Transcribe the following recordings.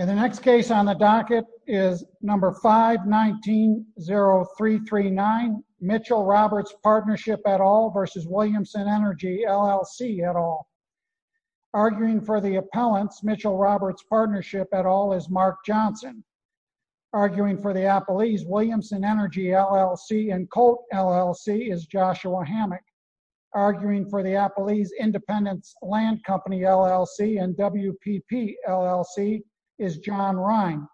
519-0339 Mitchell-Roberts Partnership, et al. v. Williamson Energy, LLC, et al. Arguing for the appellants, Mitchell-Roberts Partnership, et al. is Mark Johnson. Arguing for the appellees, Williamson Energy, LLC and Colt, LLC, is Joshua Hammock. Arguing for the appellees, Independence Land Company, LLC and WPP, LLC, is John Rhine.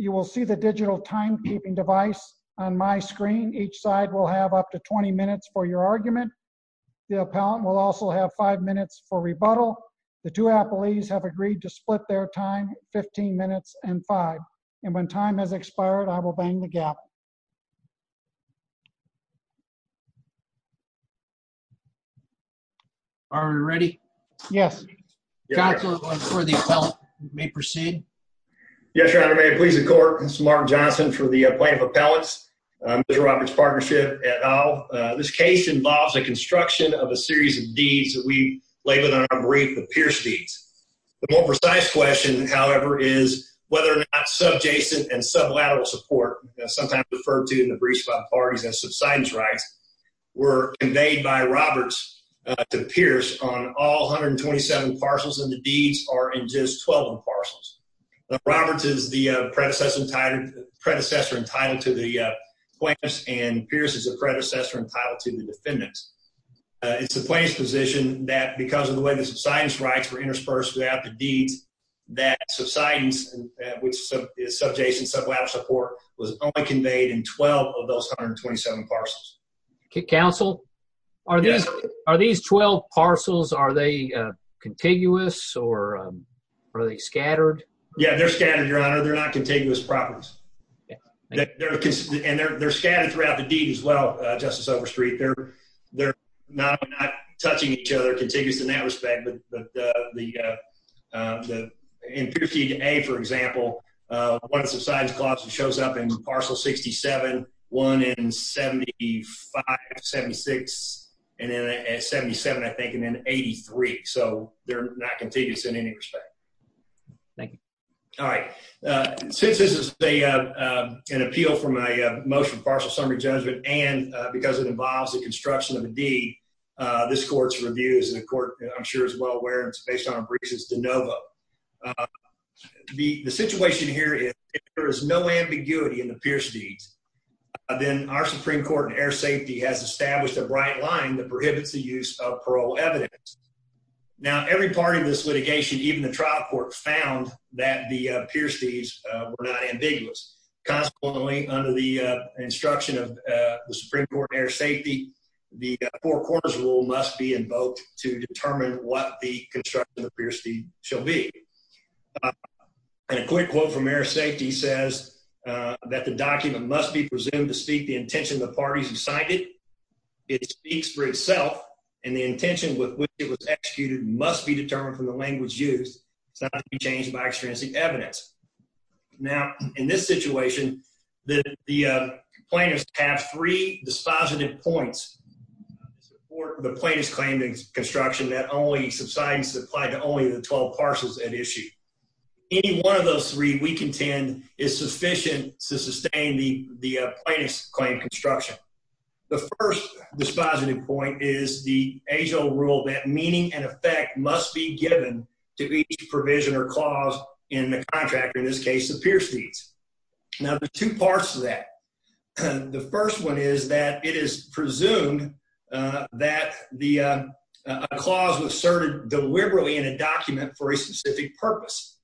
You will see the digital timekeeping device on my screen. Each side will have up to 20 minutes for your argument. The appellant will also have five minutes for rebuttal. The two appellees have agreed to split their time, 15 minutes and five. Are we ready? Yes. Counsel for the appellant may proceed. Yes, Your Honor. May it please the court? This is Mark Johnson for the plaintiff appellants, Mitchell-Roberts Partnership, et al. This case involves a construction of a series of deeds that we labeled on our brief, the Pierce Deeds. The more precise question, however, is whether or not subjacent and sublateral support, sometimes referred to in the briefs by parties as subsidence rights, were conveyed by Roberts to Pierce on all 127 parcels and the deeds are in just 12 parcels. Roberts is the predecessor entitled to the plaintiffs and Pierce is the predecessor entitled to the defendants. It's the plaintiff's position that because of the way the subsidence rights were interspersed throughout the deeds, that subsidence, which is subjacent sublateral support, was only conveyed in 12 of those 127 parcels. Counsel, are these 12 parcels, are they contiguous or are they scattered? Yeah, they're scattered, Your Honor. They're not contiguous properties. And they're scattered throughout the deed as well, Justice Overstreet. They're not touching each other, contiguous in that respect, but in Pierce Deed A, for example, one of the subsidence clauses shows up in parcel 67, one in 75, 76, and then at 77, I think, and then 83. So, they're not contiguous in any respect. Thank you. All right. Since this is an appeal for my motion, partial summary judgment, and because it involves the construction of a deed, this court's review, as the court, I'm sure, is well aware, and it's based on a brief, is de novo. The situation here is, if there is no ambiguity in the Pierce Deeds, then our Supreme Court and Air Safety has established a bright line that prohibits the use of parole evidence. Now, every part of this litigation, even the trial court, found that the Pierce Deeds were not ambiguous. Consequently, under the instruction of the Supreme Court and Air Safety, the Four Corners Rule must be invoked to determine what the construction of the Pierce Deed shall be. And a quick quote from Air Safety says that the document must be presumed to speak the intention of the parties who signed it. It speaks for itself, and the intention with which it was executed must be determined from the language used. It's not to be changed by extrinsic evidence. Now, in this situation, the plaintiffs have three dispositive points for the plaintiff's claim to construction that only subsides and is applied to only the 12 parcels at issue. Any one of those three, we contend, is sufficient to sustain the plaintiff's claim to construction. The first dispositive point is the age-old rule that meaning and effect must be given to each provision or clause in the contract, or in this case, the Pierce Deeds. Now, there are two parts to that. The first one is that it is presumed that a clause was asserted deliberately in a document for a specific purpose.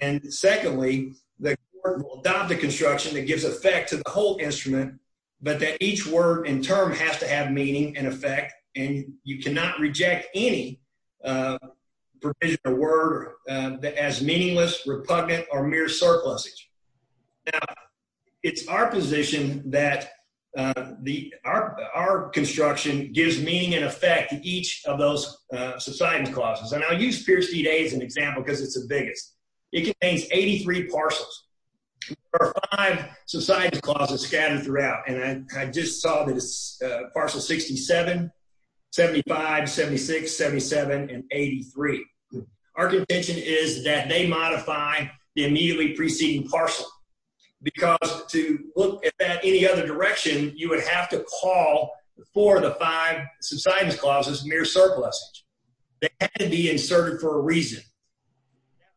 And secondly, the court will adopt a construction that gives effect to the whole instrument, but that each word and term has to have meaning and effect, and you cannot reject any provision or word as meaningless, repugnant, or mere surplusage. Now, it's our position that our construction gives meaning and effect to each of those subsidence clauses. And I'll use Pierce Deed A as an example because it's the biggest. It contains 83 parcels, or five subsidence clauses scattered throughout. And I just saw that it's parcel 67, 75, 76, 77, and 83. Our contention is that they modify the immediately preceding parcel, because to look at that any other direction, you would have to call for the five subsidence clauses mere surplusage. They had to be inserted for a reason.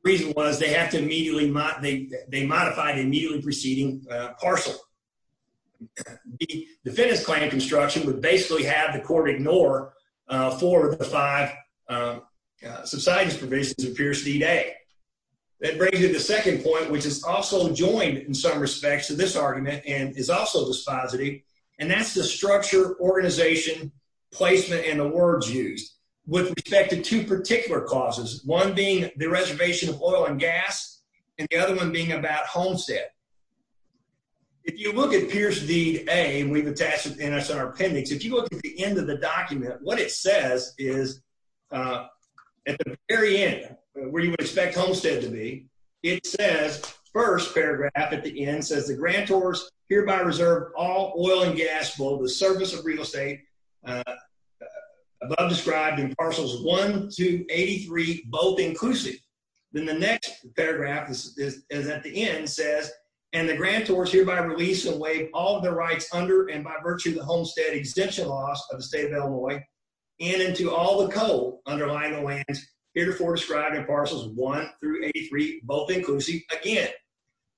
The reason was they have to immediately modify the immediately preceding parcel. The defendant's claim of construction would basically have the court ignore four of the five subsidence provisions of Pierce Deed A. That brings me to the second point, which is also joined in some respects to this argument and is also dispositive, and that's the structure, organization, placement, and the words used. With respect to two particular causes, one being the reservation of oil and gas, and the other one being about Homestead. If you look at Pierce Deed A, and we've attached it in our appendix, if you look at the end of the document, what it says is at the very end, where you would expect Homestead to be, it says, first paragraph at the end, it says, the grantors hereby reserve all oil and gas for the service of real estate, above described in parcels 1 through 83, both inclusive. Then the next paragraph is at the end, it says, and the grantors hereby release away all of their rights under and by virtue of the Homestead exemption laws of the state of Illinois, and into all the coal underlying the lands, herefore described in parcels 1 through 83, both inclusive, again.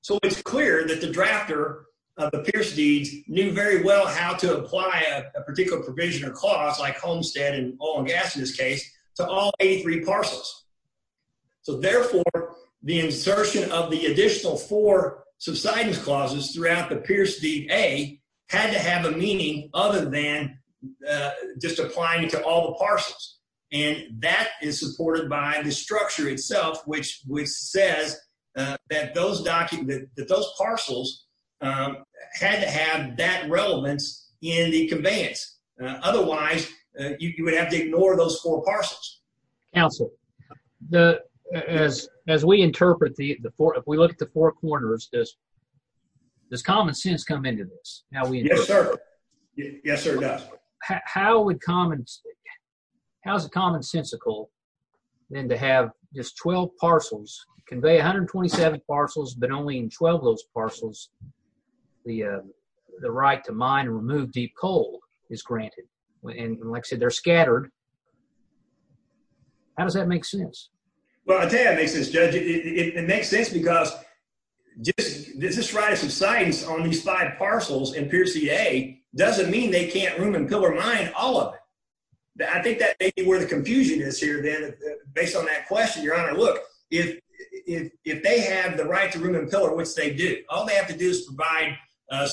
So it's clear that the drafter of the Pierce Deeds knew very well how to apply a particular provision or cause, like Homestead and oil and gas in this case, to all 83 parcels. So therefore, the insertion of the additional four subsidence clauses throughout the Pierce Deed A had to have a meaning other than just applying it to all the parcels. And that is supported by the structure itself, which says that those parcels had to have that relevance in the conveyance. Otherwise, you would have to ignore those four parcels. Council, as we interpret, if we look at the four corners, does common sense come into this? Yes, sir. Yes, sir, it does. How is it commonsensical then to have just 12 parcels, convey 127 parcels, but only in 12 of those parcels, the right to mine and remove deep coal is granted? And like I said, they're scattered. How does that make sense? Well, I'll tell you how it makes sense, Judge. It makes sense because just this right of subsidence on these five parcels in Pierce Deed A doesn't mean they can't room and pillar mine all of it. I think that may be where the confusion is here then, based on that question, Your Honor. Look, if they have the right to room and pillar, which they do, all they have to do is provide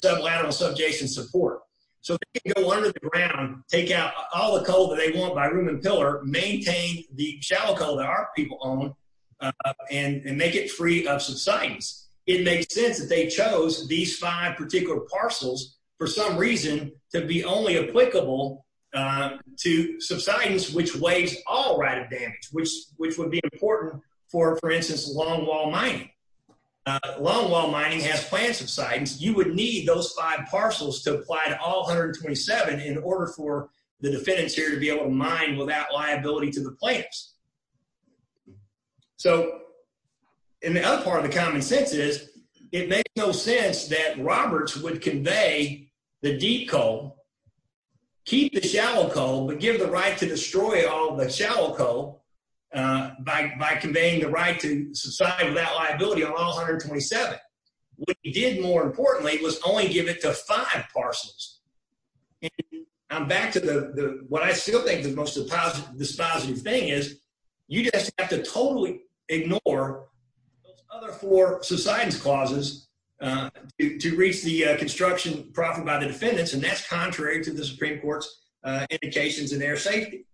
sublateral subjacent support. So they can go under the ground, take out all the coal that they want by room and pillar, maintain the shallow coal that our people own, and make it free of subsidence. It makes sense that they chose these five particular parcels, for some reason, to be only applicable to subsidence which weighs all right of damage, which would be important for, for instance, longwall mining. Longwall mining has plant subsidence. You would need those five parcels to apply to all 127 in order for the defendants here to be able to mine without liability to the plants. So, and the other part of the common sense is, it makes no sense that Roberts would convey the deep coal, keep the shallow coal, but give the right to destroy all the shallow coal by conveying the right to subside without liability on all 127. What he did, more importantly, was only give it to five parcels. And I'm back to the, what I still think is the most dispositive thing is, you just have to totally ignore those other four subsidence clauses to reach the construction profit by the defendants, and that's contrary to the Supreme Court's indications in air safety.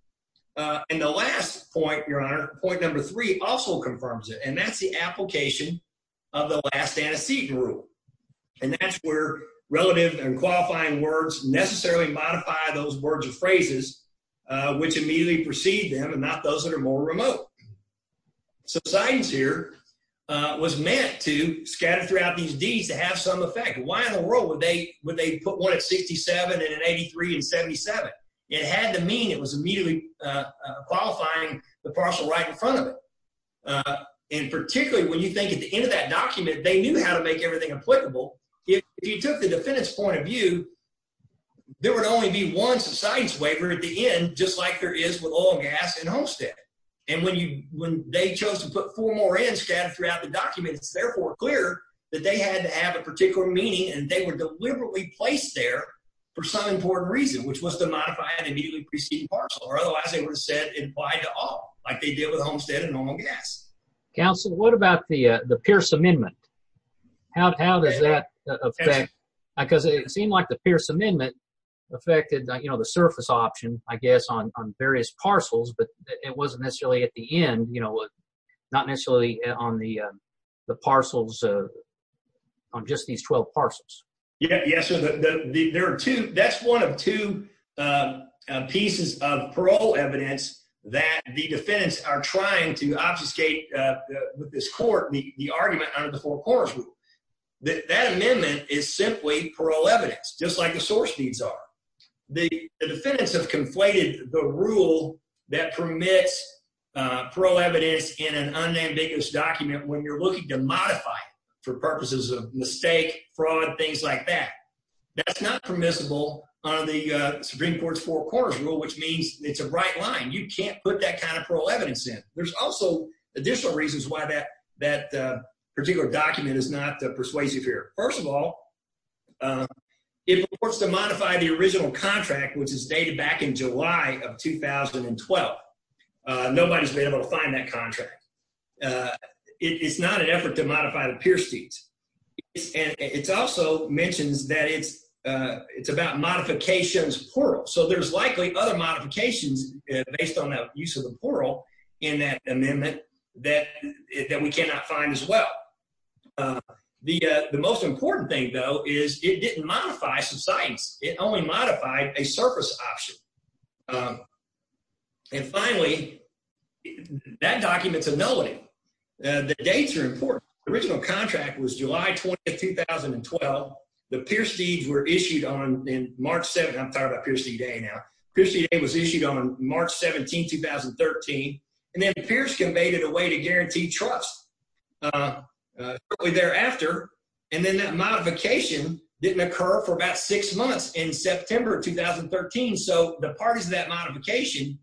And the last point, Your Honor, point number three also confirms it, and that's the application of the last antecedent rule. And that's where relative and qualifying words necessarily modify those words or phrases, which immediately precede them and not those that are more remote. So subsidence here was meant to scatter throughout these deeds to have some effect. Why in the world would they, would they put one at 67 and an 83 and 77? It had to mean it was immediately qualifying the parcel right in front of it. And particularly when you think at the end of that document, they knew how to make everything applicable. If you took the defendant's point of view, there would only be one subsidence waiver at the end, just like there is with oil, gas, and homestead. And when you, when they chose to put four more in scattered throughout the document, it's therefore clear that they had to have a particular meaning and they were deliberately placed there for some important reason, which was to modify an immediately preceding parcel, or otherwise they would have said it applied to all, like they did with homestead and normal gas. Counsel, what about the Pierce Amendment? How does that affect, because it seemed like the Pierce Amendment affected, you know, the surface option, I guess, on various parcels, but it wasn't necessarily at the end, you know, not necessarily on the parcels, on just these 12 parcels. Yeah, so there are two, that's one of two pieces of parole evidence that the defendants are trying to obfuscate this court, the argument under the Four Corners Rule. That amendment is simply parole evidence, just like the source deeds are. The defendants have conflated the rule that permits parole evidence in an unambiguous document when you're looking to modify it for purposes of mistake, fraud, things like that. That's not permissible under the Supreme Court's Four Corners Rule, which means it's a right line. You can't put that kind of parole evidence in. There's also additional reasons why that particular document is not persuasive here. First of all, it reports to modify the original contract, which is dated back in July of 2012. Nobody's been able to find that contract. It's not an effort to modify the Pierce deeds. It also mentions that it's about modifications of parole, so there's likely other modifications based on that use of the parole in that amendment that we cannot find as well. The most important thing, though, is it didn't modify subsidence. It only modified a surface option. And finally, that document's a nullity. The dates are important. The original contract was July 20, 2012. The Pierce deeds were issued on March 7. I'm tired of Pierce D-Day now. Pierce D-Day was issued on March 17, 2013. And then Pierce conveyed it a way to guarantee trust shortly thereafter. And then that modification didn't occur for about six months in September of 2013. So the parties of that modification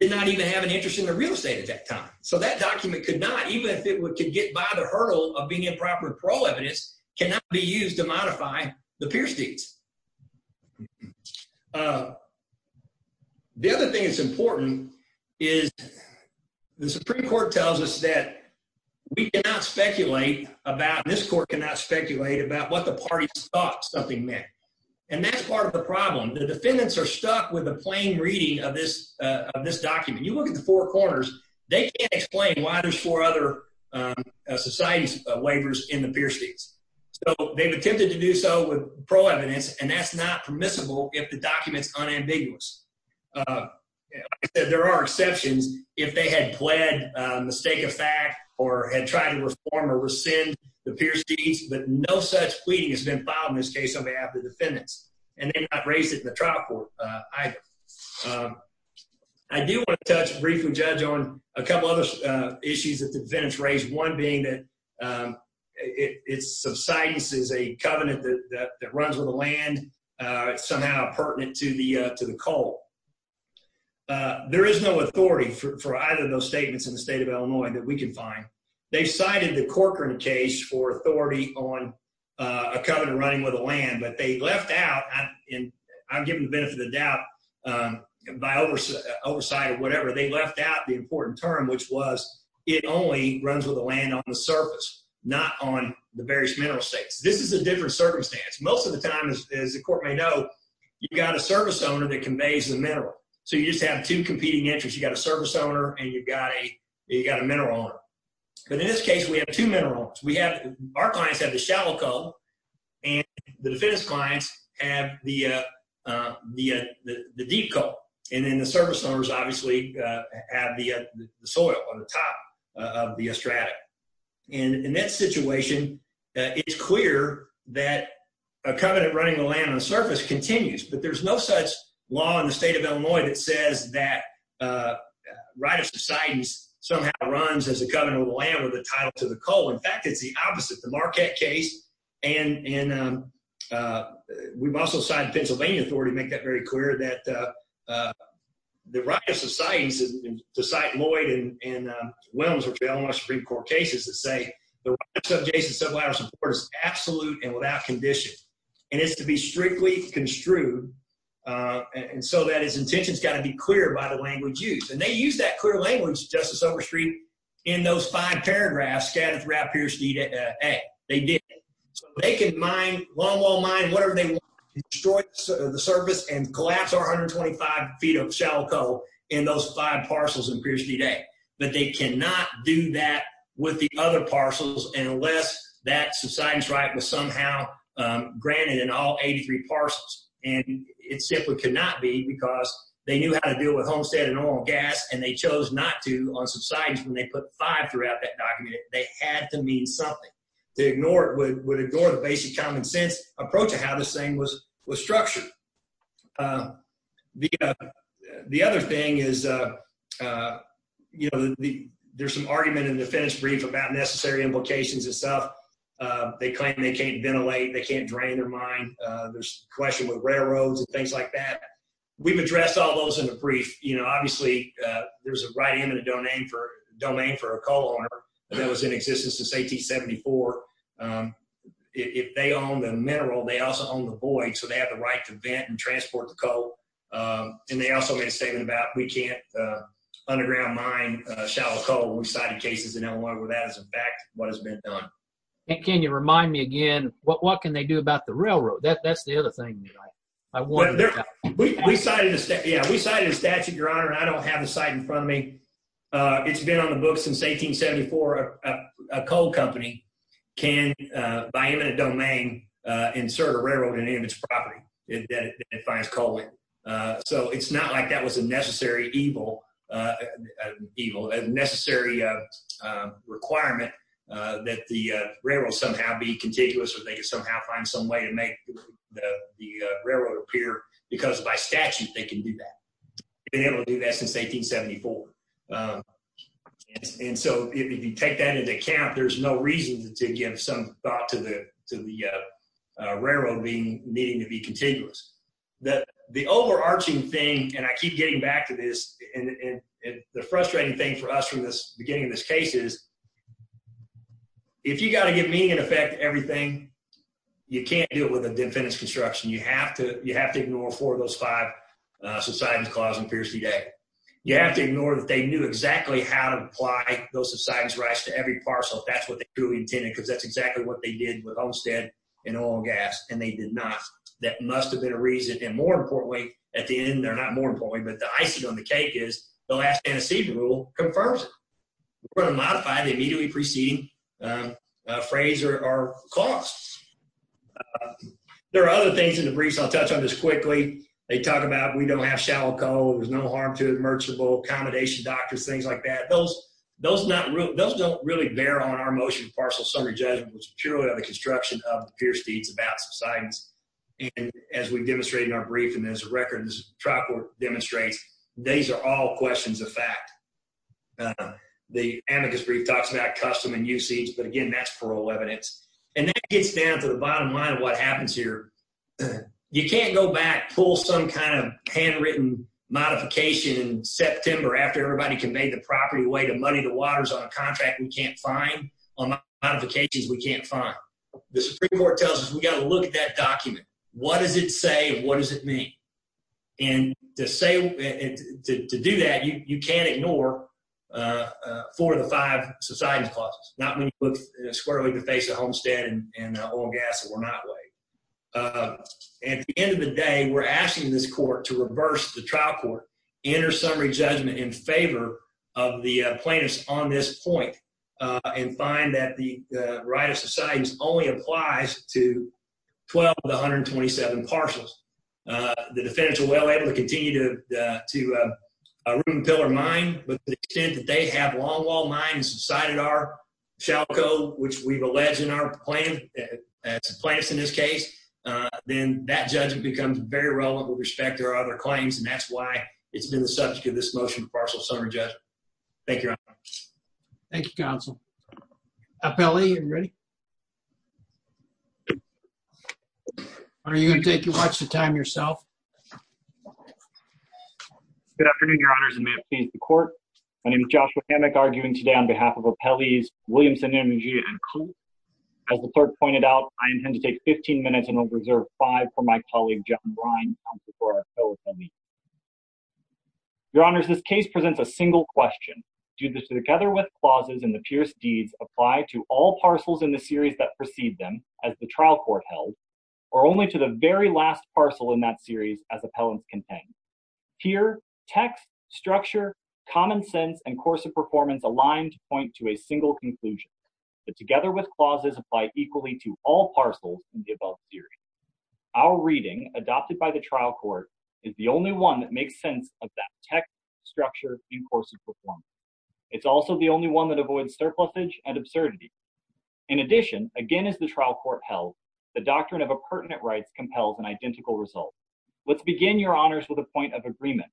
did not even have an interest in the real estate at that time. So that document could not, even if it could get by the hurdle of being improper parole evidence, cannot be used to modify the Pierce deeds. The other thing that's important is the Supreme Court tells us that we cannot speculate about, this court cannot speculate about what the parties thought something meant. And that's part of the problem. The defendants are stuck with a plain reading of this document. You look at the four corners, they can't explain why there's four other society's waivers in the Pierce deeds. So they've attempted to do so with parole evidence, and that's not permissible if the document's unambiguous. Like I said, there are exceptions. If they had pled mistake of fact or had tried to reform or rescind the Pierce deeds, but no such pleading has been filed in this case on behalf of the defendants. And they've not raised it in the trial court either. I do want to touch, briefly judge on a couple other issues that the defendants raised. One being that its subsidence is a covenant that runs with the land, somehow pertinent to the cult. There is no authority for either of those statements in the state of Illinois that we can find. They've cited the Corcoran case for authority on a covenant running with the land, but they left out, and I'm given the benefit of the doubt by oversight or whatever. They left out the important term, which was it only runs with the land on the surface, not on the various mineral states. This is a different circumstance. Most of the time, as the court may know, you've got a service owner that conveys the mineral. So you just have two competing interests. You've got a service owner, and you've got a mineral owner. But in this case, we have two mineral owners. Our clients have the shallow cult, and the defendant's clients have the deep cult. And then the service owners, obviously, have the soil on the top of the stratum. And in that situation, it's clear that a covenant running with the land on the surface continues. But there's no such law in the state of Illinois that says that right of societies somehow runs as a covenant with the land with a title to the cult. In fact, it's the opposite, the Marquette case. And we've also signed Pennsylvania authority to make that very clear that the right of societies, to cite Lloyd and Williams, which are Illinois Supreme Court cases, that say the right of subjacent sublateral support is absolute and without condition. And it's to be strictly construed, and so that its intention has got to be clear by the language used. And they used that clear language, Justice Overstreet, in those five paragraphs scattered throughout Pierce v. A. They did it. So they can mine, longwall mine, whatever they want, destroy the surface and collapse our 125 feet of shallow cult in those five parcels in Pierce v. A. But they cannot do that with the other parcels unless that subsidence right was somehow granted in all 83 parcels. And it simply could not be because they knew how to deal with homestead and oil and gas, and they chose not to on subsidence when they put five throughout that document. They had to mean something. To ignore it would ignore the basic common sense approach to how this thing was structured. The other thing is, you know, there's some argument in the finish brief about necessary implications itself. They claim they can't ventilate, they can't drain their mine. There's a question with railroads and things like that. We've addressed all those in the brief. Obviously, there's a right and a domain for a coal owner that was in existence since 1874. If they own the mineral, they also own the void, so they have the right to vent and transport the coal. And they also made a statement about we can't underground mine shallow coal. We've cited cases in Illinois where that is a fact of what has been done. And can you remind me again, what can they do about the railroad? That's the other thing that I want to know. We cited a statute, Your Honor, and I don't have the site in front of me. It's been on the books since 1874. A coal company can, by eminent domain, insert a railroad in any of its property that it finds coal in. So it's not like that was a necessary evil, a necessary requirement that the railroad somehow be contiguous or they could somehow find some way to make the railroad appear. Because by statute, they can do that. They've been able to do that since 1874. And so if you take that into account, there's no reason to give some thought to the railroad needing to be contiguous. The overarching thing, and I keep getting back to this, and the frustrating thing for us from the beginning of this case is if you've got to give meaning and effect to everything, you can't do it with a definite construction. You have to ignore four of those five subsidence clauses in Pierce v. Day. You have to ignore that they knew exactly how to apply those subsidence rights to every parcel. That's what they truly intended because that's exactly what they did with Olmstead and oil and gas, and they did not. That must have been a reason, and more importantly, at the end, they're not more important, but the icing on the cake is the last antecedent rule confirms it. We're going to modify the immediately preceding phrase or clause. There are other things in the briefs. I'll touch on this quickly. They talk about we don't have shallow coal, there's no harm to it, merchantable accommodation, doctors, things like that. Those don't really bear on our motion to parcel summary judgment. It's purely on the construction of the Pierce deeds about subsidence. And as we've demonstrated in our brief, and as the record of this trial court demonstrates, these are all questions of fact. The amicus brief talks about custom and usage, but again, that's parole evidence. And that gets down to the bottom line of what happens here. You can't go back, pull some kind of handwritten modification in September after everybody conveyed the property away to money the waters on a contract we can't find, on modifications we can't find. The Supreme Court tells us we've got to look at that document. What does it say, and what does it mean? And to do that, you can't ignore four of the five subsidence clauses. Not when you look squarely at the face of Homestead and oil and gas that were not weighed. At the end of the day, we're asking this court to reverse the trial court, enter summary judgment in favor of the plaintiffs on this point, and find that the right of subsidence only applies to 12 of the 127 parcels. The defendants are well able to continue to ruin, pill, or mine, but to the extent that they have long-lost mine and subsided our SHALCO, which we've alleged in our plan, as the plaintiffs in this case, then that judgment becomes very relevant with respect to our other claims, and that's why it's been the subject of this motion for partial summary judgment. Thank you, Your Honor. Thank you, Counsel. Appellee, are you ready? Are you going to take and watch the time yourself? Good afternoon, Your Honors, and may it please the court. My name is Joshua Hammack, arguing today on behalf of appellees Williamson, Imogia, and Coole. As the clerk pointed out, I intend to take 15 minutes, and will reserve five for my colleague, John Brine, counsel for our appellee. Your Honors, this case presents a single question. Do the together with clauses in the Pierce deeds apply to all parcels in the series that precede them, as the trial court held, or only to the very last parcel in that series, as appellants contained? Here, text, structure, common sense, and course of performance align to point to a single conclusion, that together with clauses apply equally to all parcels in the above series. Our reading, adopted by the trial court, is the only one that makes sense of that text, structure, and course of performance. It's also the only one that avoids surplusage and absurdity. In addition, again as the trial court held, the doctrine of appurtenant rights compels an identical result. Let's begin, Your Honors, with a point of agreement,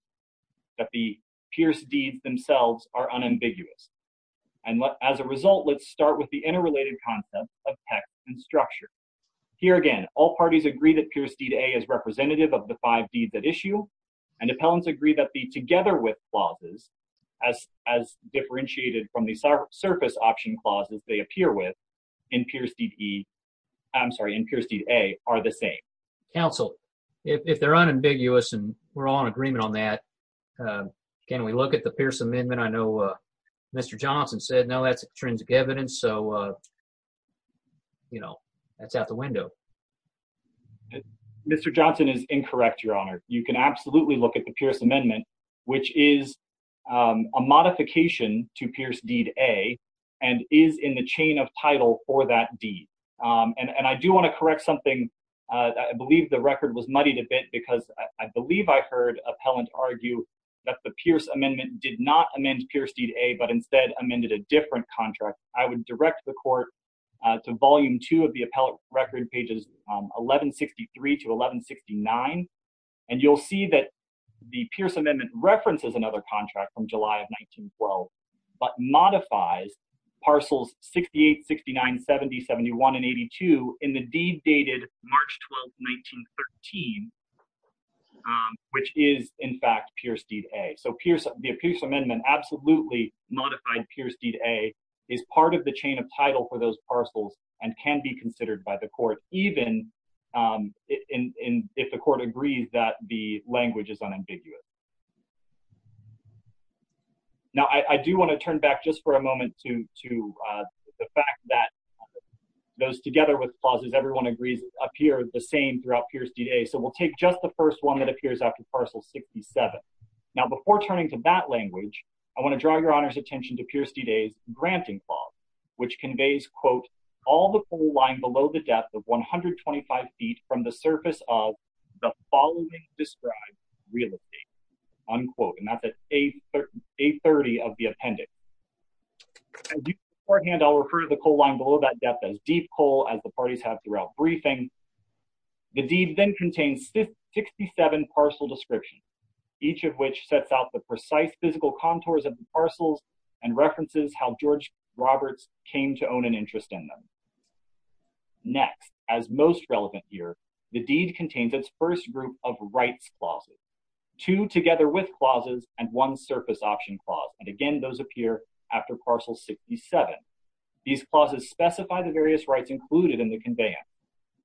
that the Pierce deeds themselves are unambiguous. As a result, let's start with the interrelated concept of text and structure. Here again, all parties agree that Pierce deed A is representative of the five deeds at issue, and appellants agree that the together with clauses, as differentiated from the surface option clauses they appear with, in Pierce deed E, I'm sorry, in Pierce deed A, are the same. Counsel, if they're unambiguous and we're all in agreement on that, can we look at the Pierce Amendment? I know Mr. Johnson said no, that's intrinsic evidence, so, you know, that's out the window. Mr. Johnson is incorrect, Your Honor. You can absolutely look at the Pierce Amendment, which is a modification to Pierce deed A, and is in the chain of title for that deed. And I do want to correct something, I believe the record was muddied a bit, because I believe I heard appellant argue that the Pierce Amendment did not amend Pierce deed A, but instead amended a different contract. I would direct the court to volume two of the appellate record, pages 1163 to 1169, and you'll see that the Pierce Amendment references another contract from July of 1912, but modifies parcels 68, 69, 70, 71, and 82 in the deed dated March 12, 1913, which is, in fact, Pierce deed A. So the Pierce Amendment absolutely modified Pierce deed A, is part of the chain of title for those parcels, and can be considered by the court, even if the court agrees that the language is unambiguous. Now, I do want to turn back just for a moment to the fact that those together with clauses everyone agrees appear the same throughout Pierce deed A, so we'll take just the first one that appears after parcel 67. Now, before turning to that language, I want to draw Your Honor's attention to Pierce deed A's granting clause, which conveys, quote, all the full line below the depth of 125 feet from the surface of the following described real estate, unquote, and that's A30 of the appendix. Beforehand, I'll refer to the coal line below that depth as deep coal as the parties have throughout briefing. The deed then contains 67 parcel descriptions, each of which sets out the precise physical contours of the parcels and references how George Roberts came to own an interest in them. Next, as most relevant here, the deed contains its first group of rights clauses, two together with clauses and one surface option clause, and again those appear after parcel 67. These clauses specify the various rights included in the conveyance.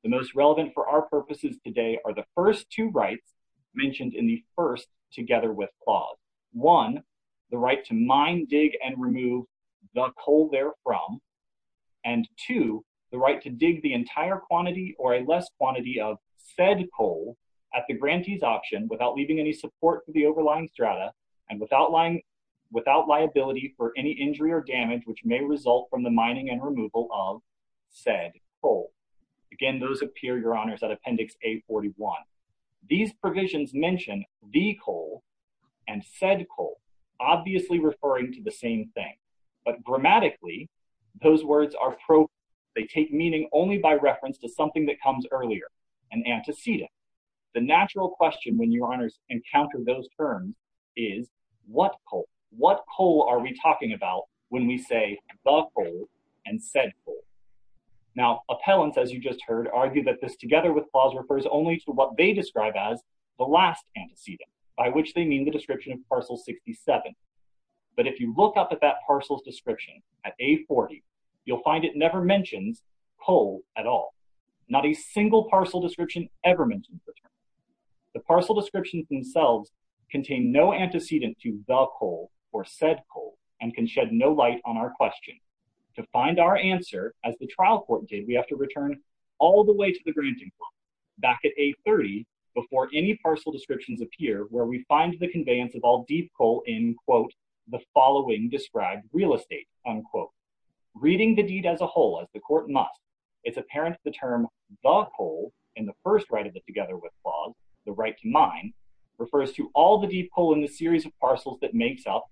The most relevant for our purposes today are the first two rights mentioned in the first together with clause. One, the right to mine, dig, and remove the coal therefrom, and two, the right to dig the entire quantity or a less quantity of said coal at the grantee's option without leaving any support for the overlying strata and without liability for any injury or damage which may result from the mining and removal of said coal. Again, those appear, Your Honors, at appendix A41. These provisions mention the coal and said coal, obviously referring to the same thing, but grammatically those words are referenced to something that comes earlier, an antecedent. The natural question when Your Honors encounter those terms is what coal? What coal are we talking about when we say the coal and said coal? Now, appellants, as you just heard, argue that this together with clause refers only to what they describe as the last antecedent, by which they mean the description of parcel 67. But if you look up at that parcel's description at A40, you'll find it never mentions coal at all. Not a single parcel description ever mentions the term. The parcel descriptions themselves contain no antecedent to the coal or said coal and can shed no light on our question. To find our answer, as the trial court did, we have to return all the way to the granting clause, back at A30 before any parcel descriptions appear where we find the conveyance of all deep coal in, quote, the following described real estate, unquote. Reading the deed as a whole, as the court must, it's apparent the term the coal in the first right of the together with clause, the right to mine, refers to all the deep coal in the series of parcels that makes up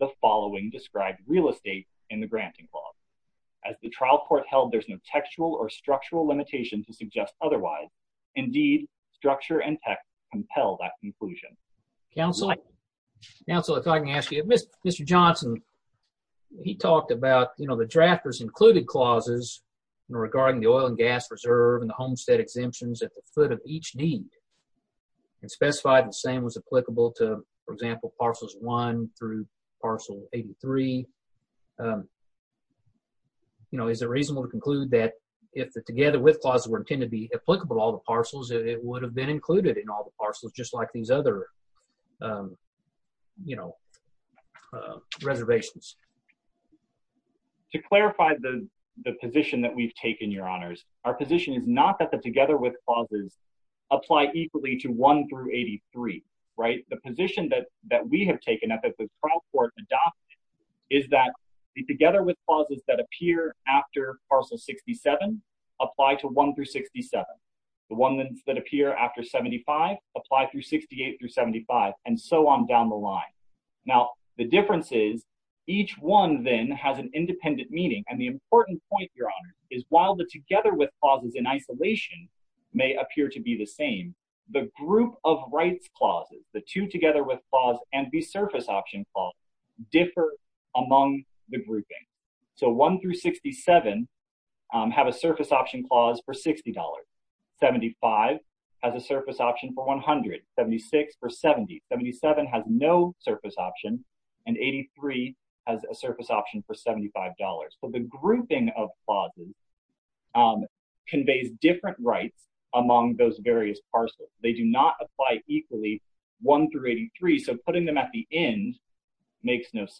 the following described real estate in the granting clause. As the trial court held, there's no textual or structural limitation to suggest otherwise. Indeed, structure and text compel that conclusion. Counsel, if I can ask you, Mr. Johnson, he talked about, you know, the drafters included clauses regarding the oil and gas reserve and the homestead exemptions at the foot of each deed, and specified the same was applicable to, for example, parcels 1 through parcel 83. You know, is it reasonable to conclude that if the together with clauses were intended to be applicable to all the parcels, it would have been included in all the parcels, just like these other you know, reservations? To clarify the position that we've taken, your honors, our position is not that the together with clauses apply equally to 1 through 83, right? The position that we have taken, that the trial court adopted, is that the together with clauses that appear after parcel 67 apply to 1 through 67. The ones that appear after 75 apply through 68 through 75, and so on down the line. Now, the difference is each one then has an independent meaning, and the important point, your honors, is while the together with clauses in isolation may appear to be the same, the group of rights clauses, the two together with clause and the surface option clause, differ among the grouping. So 1 through 67 have a surface option clause for $60. 75 has a surface option for $100. 76 for $70. 77 has no surface option, and 83 has a surface option for $75. So the grouping of clauses conveys different rights among those various parcels. They do not apply equally 1 through 83, so putting them at the end makes no sense.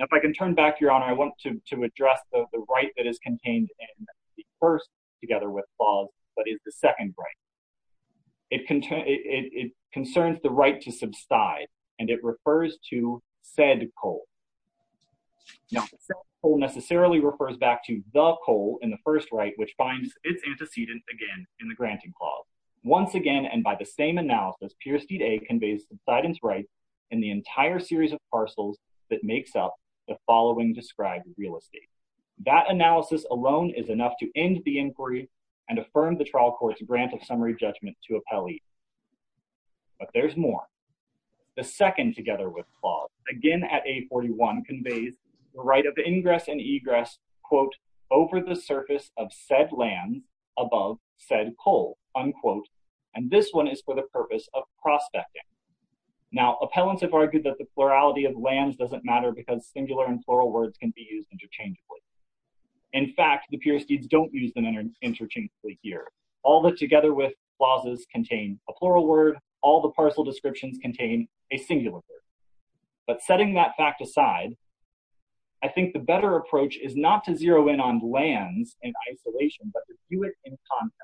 If I can turn back, your honor, I want to address the right that is contained in the first together with clause but is the second right. It concerns the right to subside, and it refers to said coal. Now, said coal necessarily refers back to the coal in the first right, which finds its antecedent again in the granting clause. Once again, and by the same analysis, Peersteed A conveys subsidence rights in the entire series of parcels that makes up the following described real estate. That analysis alone is enough to end the inquiry and affirm the trial court's grant of summary judgment to appellee. But there's more. The second together with clause, again at 841, conveys the right of ingress and egress, quote, over the surface of said land above said coal, unquote, and this one is for the purpose of prospecting. Now, appellants have argued that the plurality of lands doesn't matter because singular and plural words can be used interchangeably. In fact, the Peersteeds don't use them interchangeably here. All the together with clauses contain a plural word. All the parcel descriptions contain a singular word. But setting that fact aside, I think the better approach is not to zero in on lands in isolation, but to view it in context.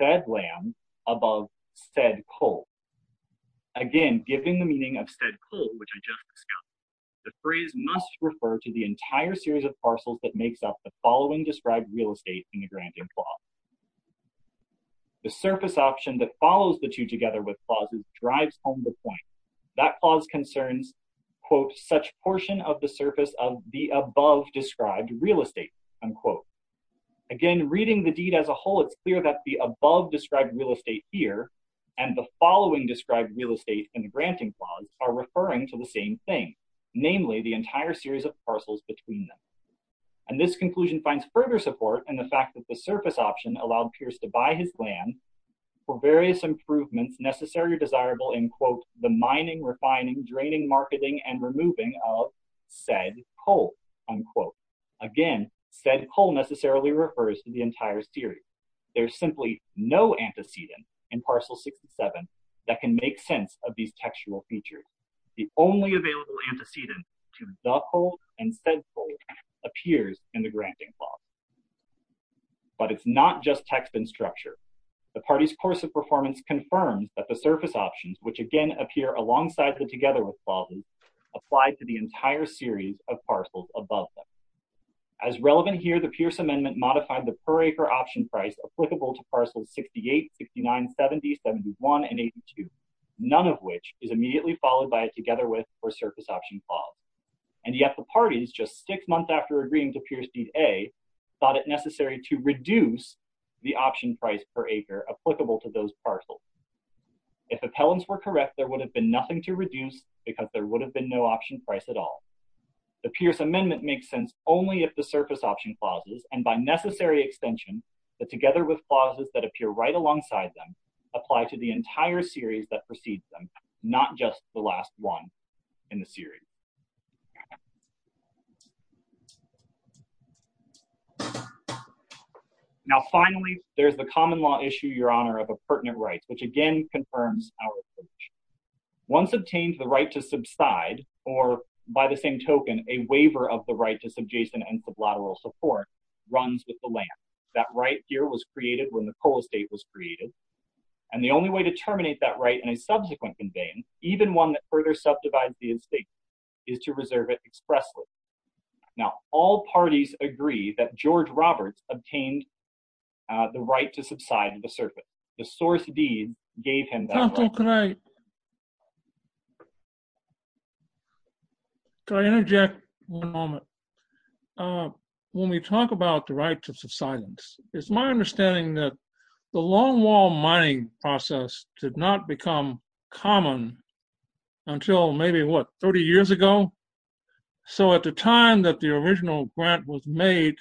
Said land above said coal. Again, given the meaning of said coal, which I just discussed, the phrase must refer to the entire series of parcels that makes up the following described real estate in the granting clause. The surface option that follows the two together with clauses drives home the point. That clause concerns quote, such portion of the surface of the above described real estate, unquote. Again, reading the deed as a whole, it's clear that the above described real estate here and the following described real estate in the granting clause are referring to the same thing. Namely, the entire series of parcels between them. And this conclusion finds further support in the fact that the surface option allowed Pierce to buy his land for various improvements necessary or desirable in quote the mining, refining, draining, marketing, and removing of said coal, unquote. Again, said coal necessarily refers to the entire series. There's simply no antecedent in parcel 67 that can make sense of these textual features. The only available antecedent to the coal and said coal appears in the granting clause. But it's not just text and structure. The party's course of performance confirms that the surface options, which again appear alongside the together with clauses apply to the entire series of parcels above them. As relevant here, the Pierce amendment modified the per acre option price applicable to parcels 68, 69, 70, 71, and 82. None of which is immediately followed by a together with or surface option clause. And yet the parties just six months after agreeing to Pierce deed A thought it necessary to reduce the option price per acre applicable to those parcels. If appellants were correct, there would have been nothing to reduce because there would have been no option price at all. The Pierce amendment makes sense only if the surface option clauses and by necessary extension that together with clauses that appear right alongside them apply to the entire series that precedes them, not just the last one in the series. Now finally there's the common law issue, your honor, of a pertinent rights, which again confirms our approach. Once obtained the right to subside or by the same token, a waiver of the right to subjacent and that right here was created when the coal estate was created. And the only way to terminate that right in a subsequent conveyance, even one that further subdivides the estate is to reserve it expressly. Now all parties agree that George Roberts obtained the right to subside to the surface. The source deed gave him that right. Can I interject one moment? When we talk about the right to subsidence it's my understanding that the long wall mining process did not become common until maybe what 30 years ago? So at the time that the original grant was made,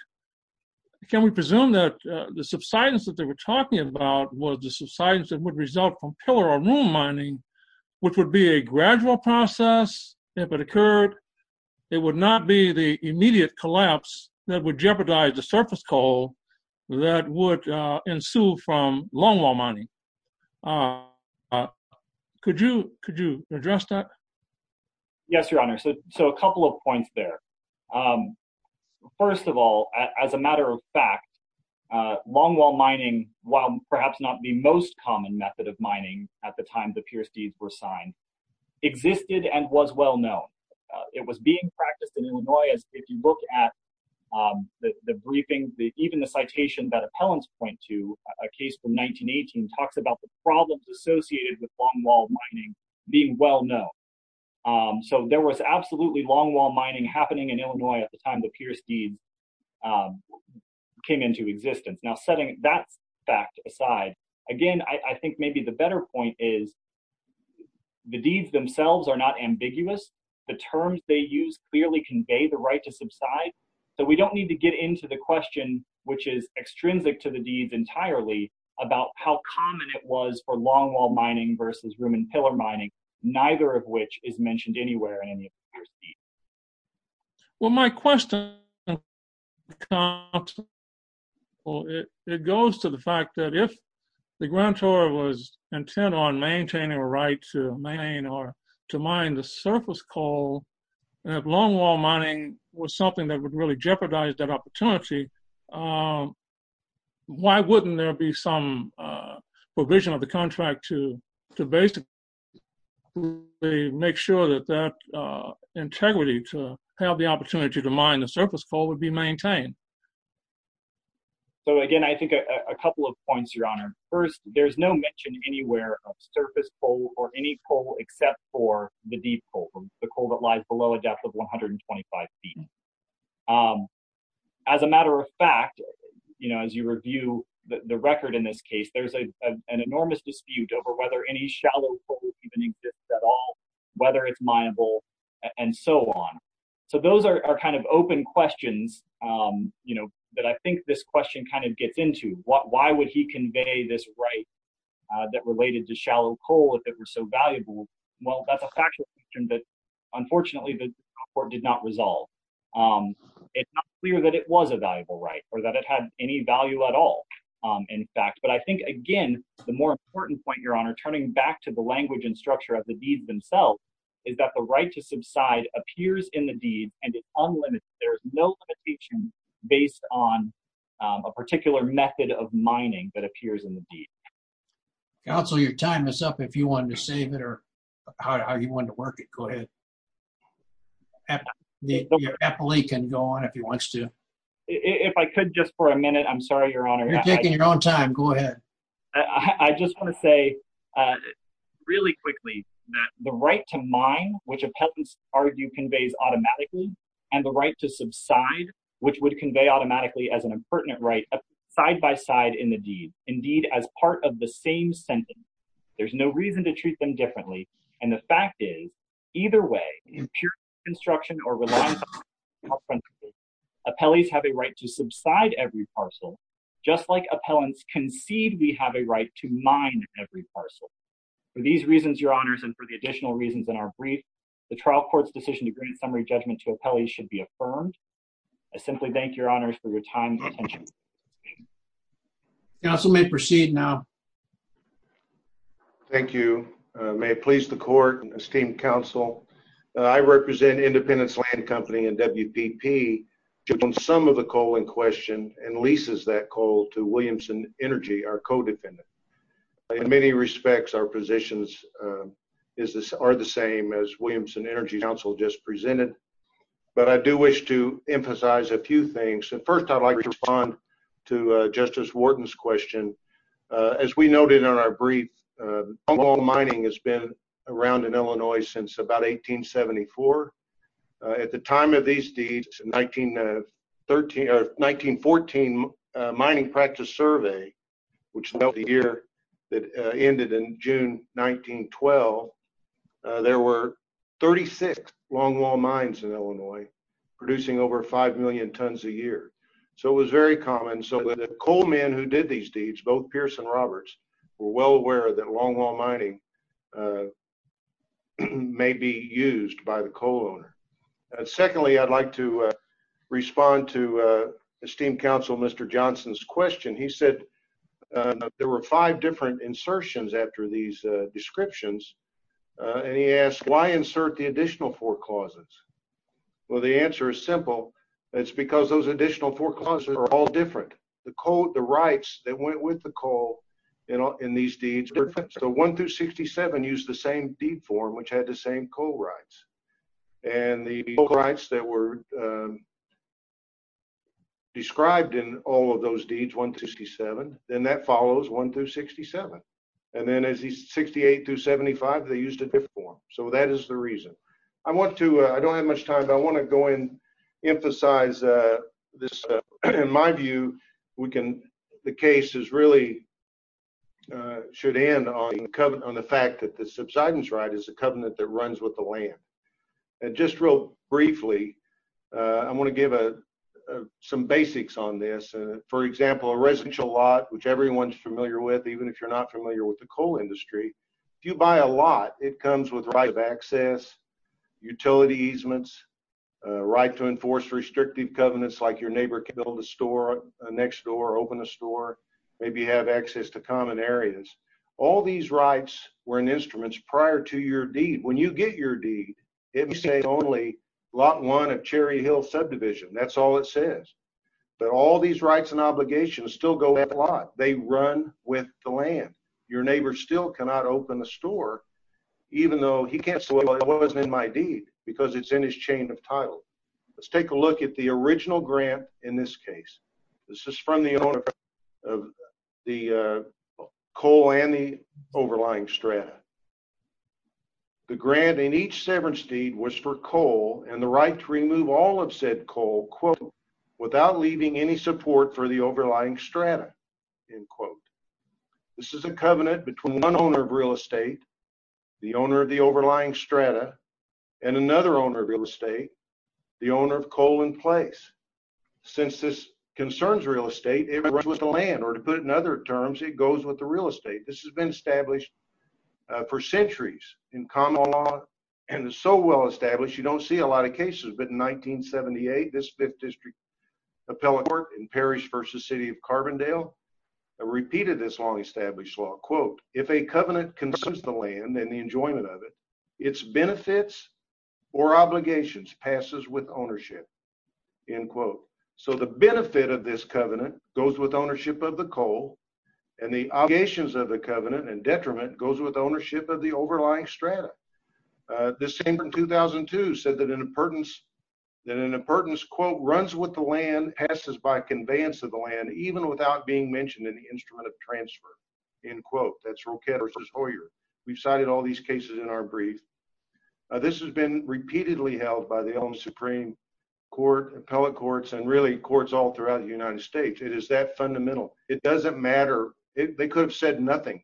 can we presume that the subsidence that they were talking about was the subsidence that would result from pillar or room mining which would be a gradual process if it occurred it would not be the immediate collapse that would jeopardize the surface coal that would ensue from long wall mining. Could you address that? Yes, your honor. So a couple of points there. First of all, as a matter of fact long wall mining, while perhaps not the most common method of mining at the time the Pierce Deeds were signed, existed and was well known. It was being practiced in Illinois as if you look at the briefing, even the citation that appellants point to, a case from 1918, talks about the problems associated with long wall mining being well known. So there was absolutely long wall mining happening in Illinois at the time the Pierce Deeds came into existence. Now setting that fact aside, again I think maybe the better point is the deeds themselves are not ambiguous. The terms they use clearly convey the right to subside. So we don't need to get into the question, which is extrinsic to the deeds entirely, about how common it was for long wall mining versus room and pillar mining neither of which is mentioned anywhere in any of the Pierce Deeds. Well my question it goes to the fact that if the grantor was intent on maintaining a right to mine the surface coal, if long wall mining was something that would really jeopardize that opportunity why wouldn't there be some provision of the contract to basically make sure that that integrity to have the opportunity to mine the surface coal would be maintained? So again I think a couple of points your honor. First there's no mention anywhere of surface coal or any coal except for the deep coal, the coal that lies below a depth of 125 feet. As a matter of fact, as you review the record in this case there's an enormous dispute over whether any shallow coal even exists at all, whether it's mineable and so on. So those are kind of open questions that I think this question kind of gets into. Why would he convey this right that related to shallow coal if it were so valuable? Well that's a factual question that unfortunately the Supreme Court did not resolve. It's not clear that it was a valuable right or that it had any value at all in fact. But I think again the more important point your honor, turning back to the language and structure of the deeds themselves, is that the right to subside appears in the deed and it's unlimited. There's no limitation based on a particular method of mining that appears in the deed. Counsel your time is up if you wanted to save it or how you wanted to work it, go ahead. Your appellee can go on if he wants to. If I could just for a minute, I'm sorry your honor. You're taking your own time, go ahead. I just want to say really quickly that the right to mine, which appellants argue conveys automatically, and the right to subside, which would convey automatically as an impertinent right, side by side in the deed. Indeed as part of the same sentence. There's no reason to treat them differently and the fact is either way, in pure construction or relying on principle, appellees have a right to subside every parcel just like appellants concede we have a right to mine every parcel. For these reasons your honors and for the additional reasons in our brief, the trial court's decision to grant summary judgment to appellees should be affirmed. I simply thank your honors for your time and attention. Counsel may proceed now. Thank you. May it please the court and esteemed counsel. I represent Independence Land Company and WPP. Some of the coal in question and leases that coal to Williamson Energy our co-defendant. In many respects our positions are the same as Williamson Energy counsel just presented. But I do wish to emphasize a few things. First I'd like to respond to Justice Wharton's question. As we noted in our brief, long haul mining has been around in Illinois since about 1874. At the time of these deeds, 1914 mining practice survey, which is the year that ended in June 1912, there were 36 long haul mines in Illinois producing over 5 million tons a year. So it was very common. The coal men who did these deeds, both Pierce and Roberts, were well aware that long haul mining may be used by the coal owner. Secondly I'd like to respond to esteemed counsel Mr. Johnson's question. He said there were five different insertions after these descriptions. And he asked why insert the additional forecauses? Well the answer is simple. It's because those additional forecauses are all different. The rights that went with the coal in these deeds were different. So 1-67 used the same deed form which had the same coal rights. And the rights that were described in all of those deeds, 1-67, then that follows 1-67. And then as he's 68-75, they used a different form. So that is the reason. I want to, I don't have much time, but I want to go in emphasize this. In my view, the case is really, should end on the fact that the subsidence right is the covenant that runs with the land. And just real briefly, I want to give some basics on this. For example, a residential lot which everyone's familiar with, even if you're not familiar with the coal industry. If you buy a lot, it comes with right of access, utility easements, right to enforce restrictive covenants like your neighbor can build a store next door, open a store, maybe have access to common areas. All these rights were in instruments prior to your deed. When you get your deed, it may say only Lot 1 of Cherry Hill Subdivision. That's all it says. But all these rights and obligations still go with the lot. They run with the land. Your neighbor still cannot open a store, even though he can't say, well, it wasn't in my deed, because it's in his chain of title. Let's take a look at the original grant in this case. This is from the owner of the coal and the overlying strata. The grant in each severance deed was for coal and the right to remove all of said coal without leaving any support for the overlying strata. This is a covenant between one owner of real estate, the owner of the overlying strata, and another owner of real estate, the owner of coal in place. Since this concerns real estate, it runs with the land. Or to put it in other terms, it goes with the real estate. This has been established for centuries in common law and is so well established, you don't see a lot of cases. But in 1978, this 5th District Appellate Court in Parrish v. City of Carbondale repeated this long established law. Quote, if a covenant concerns the land and the enjoyment of it, its benefits or obligations passes with ownership. End quote. So the benefit of this covenant goes with ownership of the coal, and the obligations of the covenant and the overlying strata. The same in 2002 said that an appurtenance quote, runs with the land, passes by conveyance of the land, even without being mentioned in the instrument of transfer. End quote. That's Roquette v. Hoyer. We've cited all these cases in our brief. This has been repeatedly held by the Elm Supreme Court, appellate courts, and really courts all throughout the United States. It is that fundamental. It doesn't matter. They could have said nothing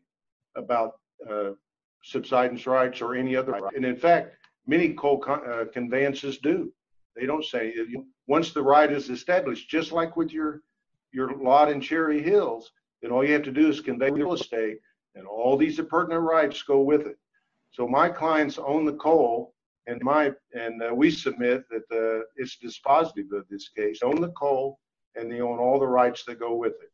about subsidence rights or any other rights. And in fact, many coal conveyances do. They don't say anything. Once the right is established, just like with your lot in Cherry Hills, then all you have to do is convey real estate, and all these appurtenant rights go with it. So my clients own the coal, and we submit that it's dispositive of this case. They own the coal, and they own all the rights that go with it.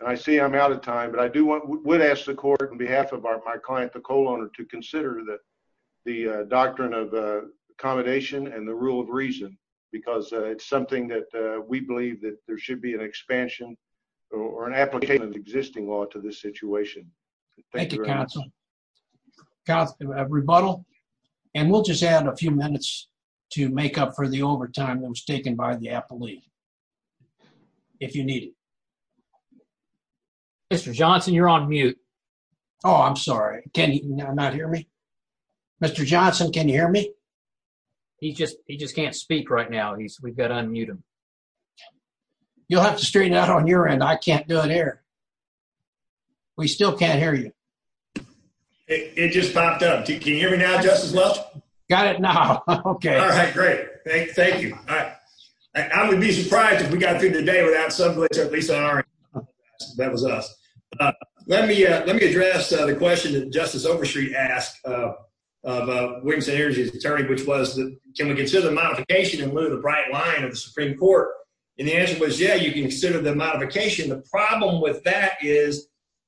And I see I'm running out of time, but I would ask the court on behalf of my client, the coal owner, to consider the doctrine of accommodation and the rule of reason, because it's something that we believe that there should be an expansion or an application of existing law to this situation. Thank you very much. And we'll just add a few minutes to make up for the overtime that was taken by the appellee, if you need it. Mr. Johnson, you're on mute. Oh, I'm sorry. Can you not hear me? Mr. Johnson, can you hear me? He just can't speak right now. We've got to unmute him. You'll have to straighten out on your end. I can't do it here. We still can't hear you. It just popped up. Can you hear me now, Justice Welch? Got it now. Okay. All right, great. Thank you. I would be surprised if we got through the day without somebody, at least on our end. That was us. Let me address the question that Justice Overstreet asked of Williamson Energy's attorney, which was, can we consider modification in lieu of the bright line of the Supreme Court? And the answer was, yeah, you can consider the modification. The problem with that is,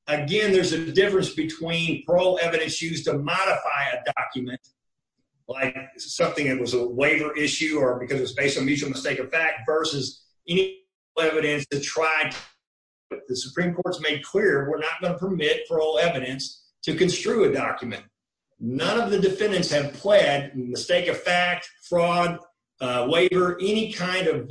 again, there's a difference between parole evidence used to modify a document like something that was a waiver issue or because it's based on mutual mistake of fact versus any evidence that tried the Supreme Court's made clear we're not going to permit parole evidence to construe a document. None of the defendants have pled mistake of fact, fraud, waiver, any kind of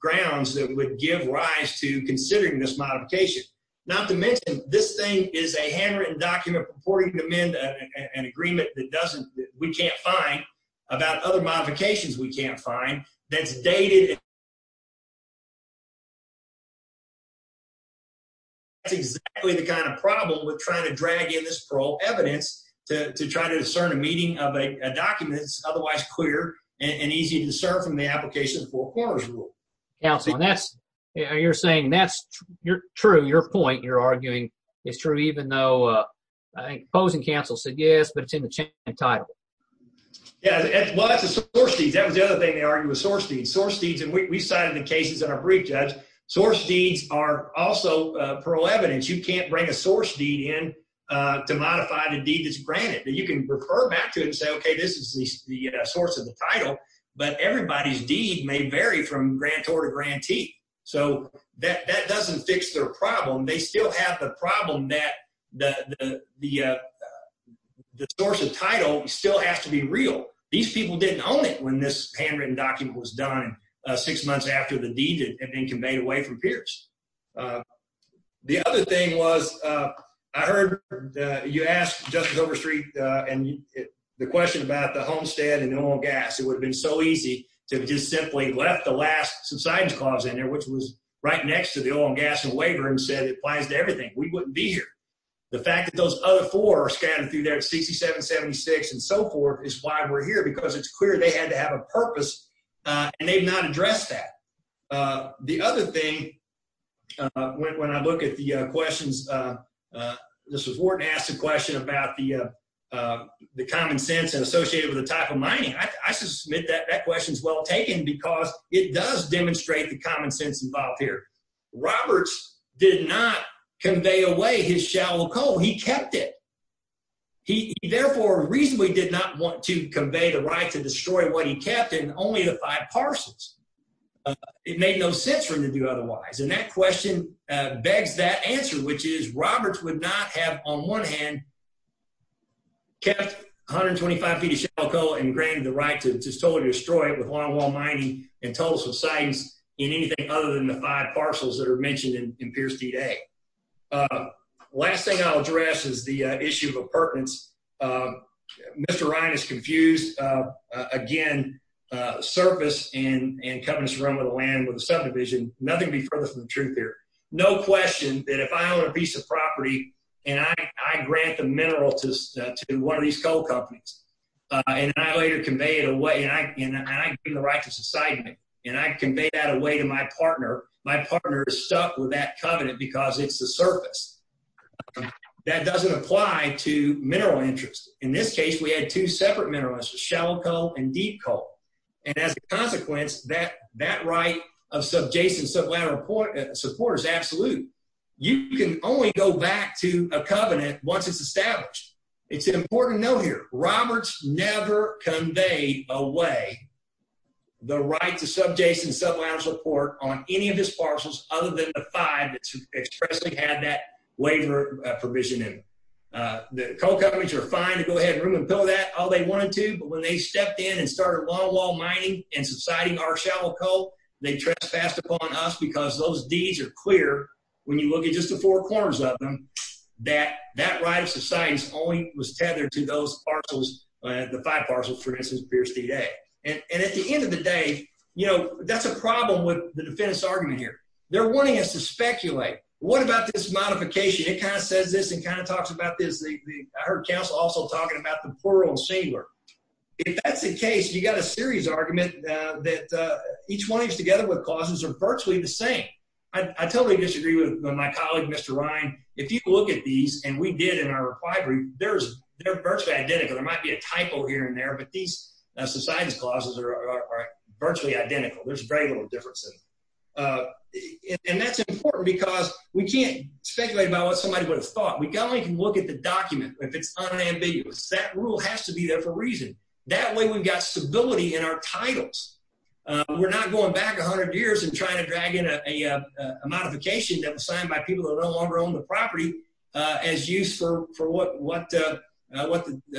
grounds that would give rise to considering this modification. Not to mention, this thing is a handwritten document purporting to amend an agreement that we can't find about other modifications we can't find that's dated... That's exactly the kind of problem with trying to drag in this parole evidence to try to discern a meeting of a document that's otherwise clear and easy to discern from the application of the four corners rule. You're saying that's true. Your point, you're arguing, is true even though opposing counsel said yes, but it's in the title. Well, that's a source deed. That was the other thing they argued was source deeds. We cited the cases in our brief, Judge. Source deeds are also parole evidence. You can't bring a source deed in to modify the deed that's granted. You can refer back to it and say, okay, this is the source of the title, but everybody's deed may vary from grantor to grantee. That doesn't fix their problem. They still have the problem that the source of title still has to be real. These people didn't own it when this handwritten document was done six months after the deed had been conveyed away from Pierce. The other thing was I heard you asked Justice Overstreet the question about the Homestead and the oil and gas. It would have been so easy to have just simply left the last subsidence clause in there, which was right next to the oil and gas and waiver, and said it applies to everything. We wouldn't be here. The fact that those other four are scattered through there at 67, 76, and so forth is why we're here because it's clear they had to have a purpose, and they've not addressed that. The other thing, when I look at the questions, this was Wharton asked a question about the common sense associated with the type of mining. I submit that that question's well taken because it does demonstrate the common sense involved here. Roberts did not convey away his shallow coal. He kept it. He therefore reasonably did not want to convey the right to destroy what he kept and only the five parcels. It made no sense for him to do otherwise, and that question begs that answer, which is Roberts would not have, on one hand, kept 125 feet of shallow coal and granted the right to totally destroy it with longwall mining and total subsidence in anything other than the five parcels that are there. Last thing I'll address is the issue of appurtenance. Mr. Ryan is confused. Again, surface and covenants run with the land, with the subdivision, nothing can be further from the truth here. No question that if I own a piece of property and I grant the mineral to one of these coal companies and I later convey it away, and I give the right to society, and I convey that away to my partner, my partner is the surface. That doesn't apply to mineral interest. In this case, we had two separate mineral interests, shallow coal and deep coal, and as a consequence, that right of subjacent sublateral support is absolute. You can only go back to a covenant once it's established. It's an important note here. Roberts never conveyed away the right to subjacent sublateral support on any of his parcels other than the five that expressly had that waiver provision in them. The coal companies were fine to go ahead and ruin and pill that all they wanted to, but when they stepped in and started longwall mining and subsiding our shallow coal, they trespassed upon us because those deeds are clear when you look at just the four corners of them, that right of subsidence only was tethered to those parcels, the five parcels for instance, Pierce D. Day. And at the end of the day, that's a they're wanting us to speculate. What about this modification? It kind of says this and kind of talks about this. I heard counsel also talking about the plural shamer. If that's the case, you've got a serious argument that each one of these together with clauses are virtually the same. I totally disagree with my colleague, Mr. Ryan. If you look at these, and we did in our inquiry, they're virtually identical. There might be a typo here and there, but these subsidence clauses are virtually identical. There's very little difference in them. And that's important because we can't speculate about what somebody would have thought. We can only look at the document if it's unambiguous. That rule has to be there for a reason. That way we've got stability in our titles. We're not going back a hundred years and trying to drag in a modification that was signed by people who no longer own the property as use for what the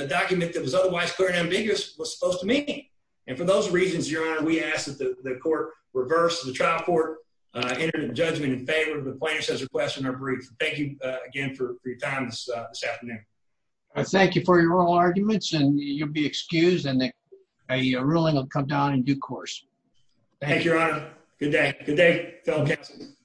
document that was otherwise clear and ambiguous was supposed to mean. And for those reasons, Your Honor, we ask that the court reverse the trial court, enter the judgment in favor of the plaintiff's request and are briefed. Thank you again for your time this afternoon. I thank you for your oral arguments and you'll be excused and a ruling will come down in due course. Thank you, Your Honor. Good day. Good day, fellow counsel.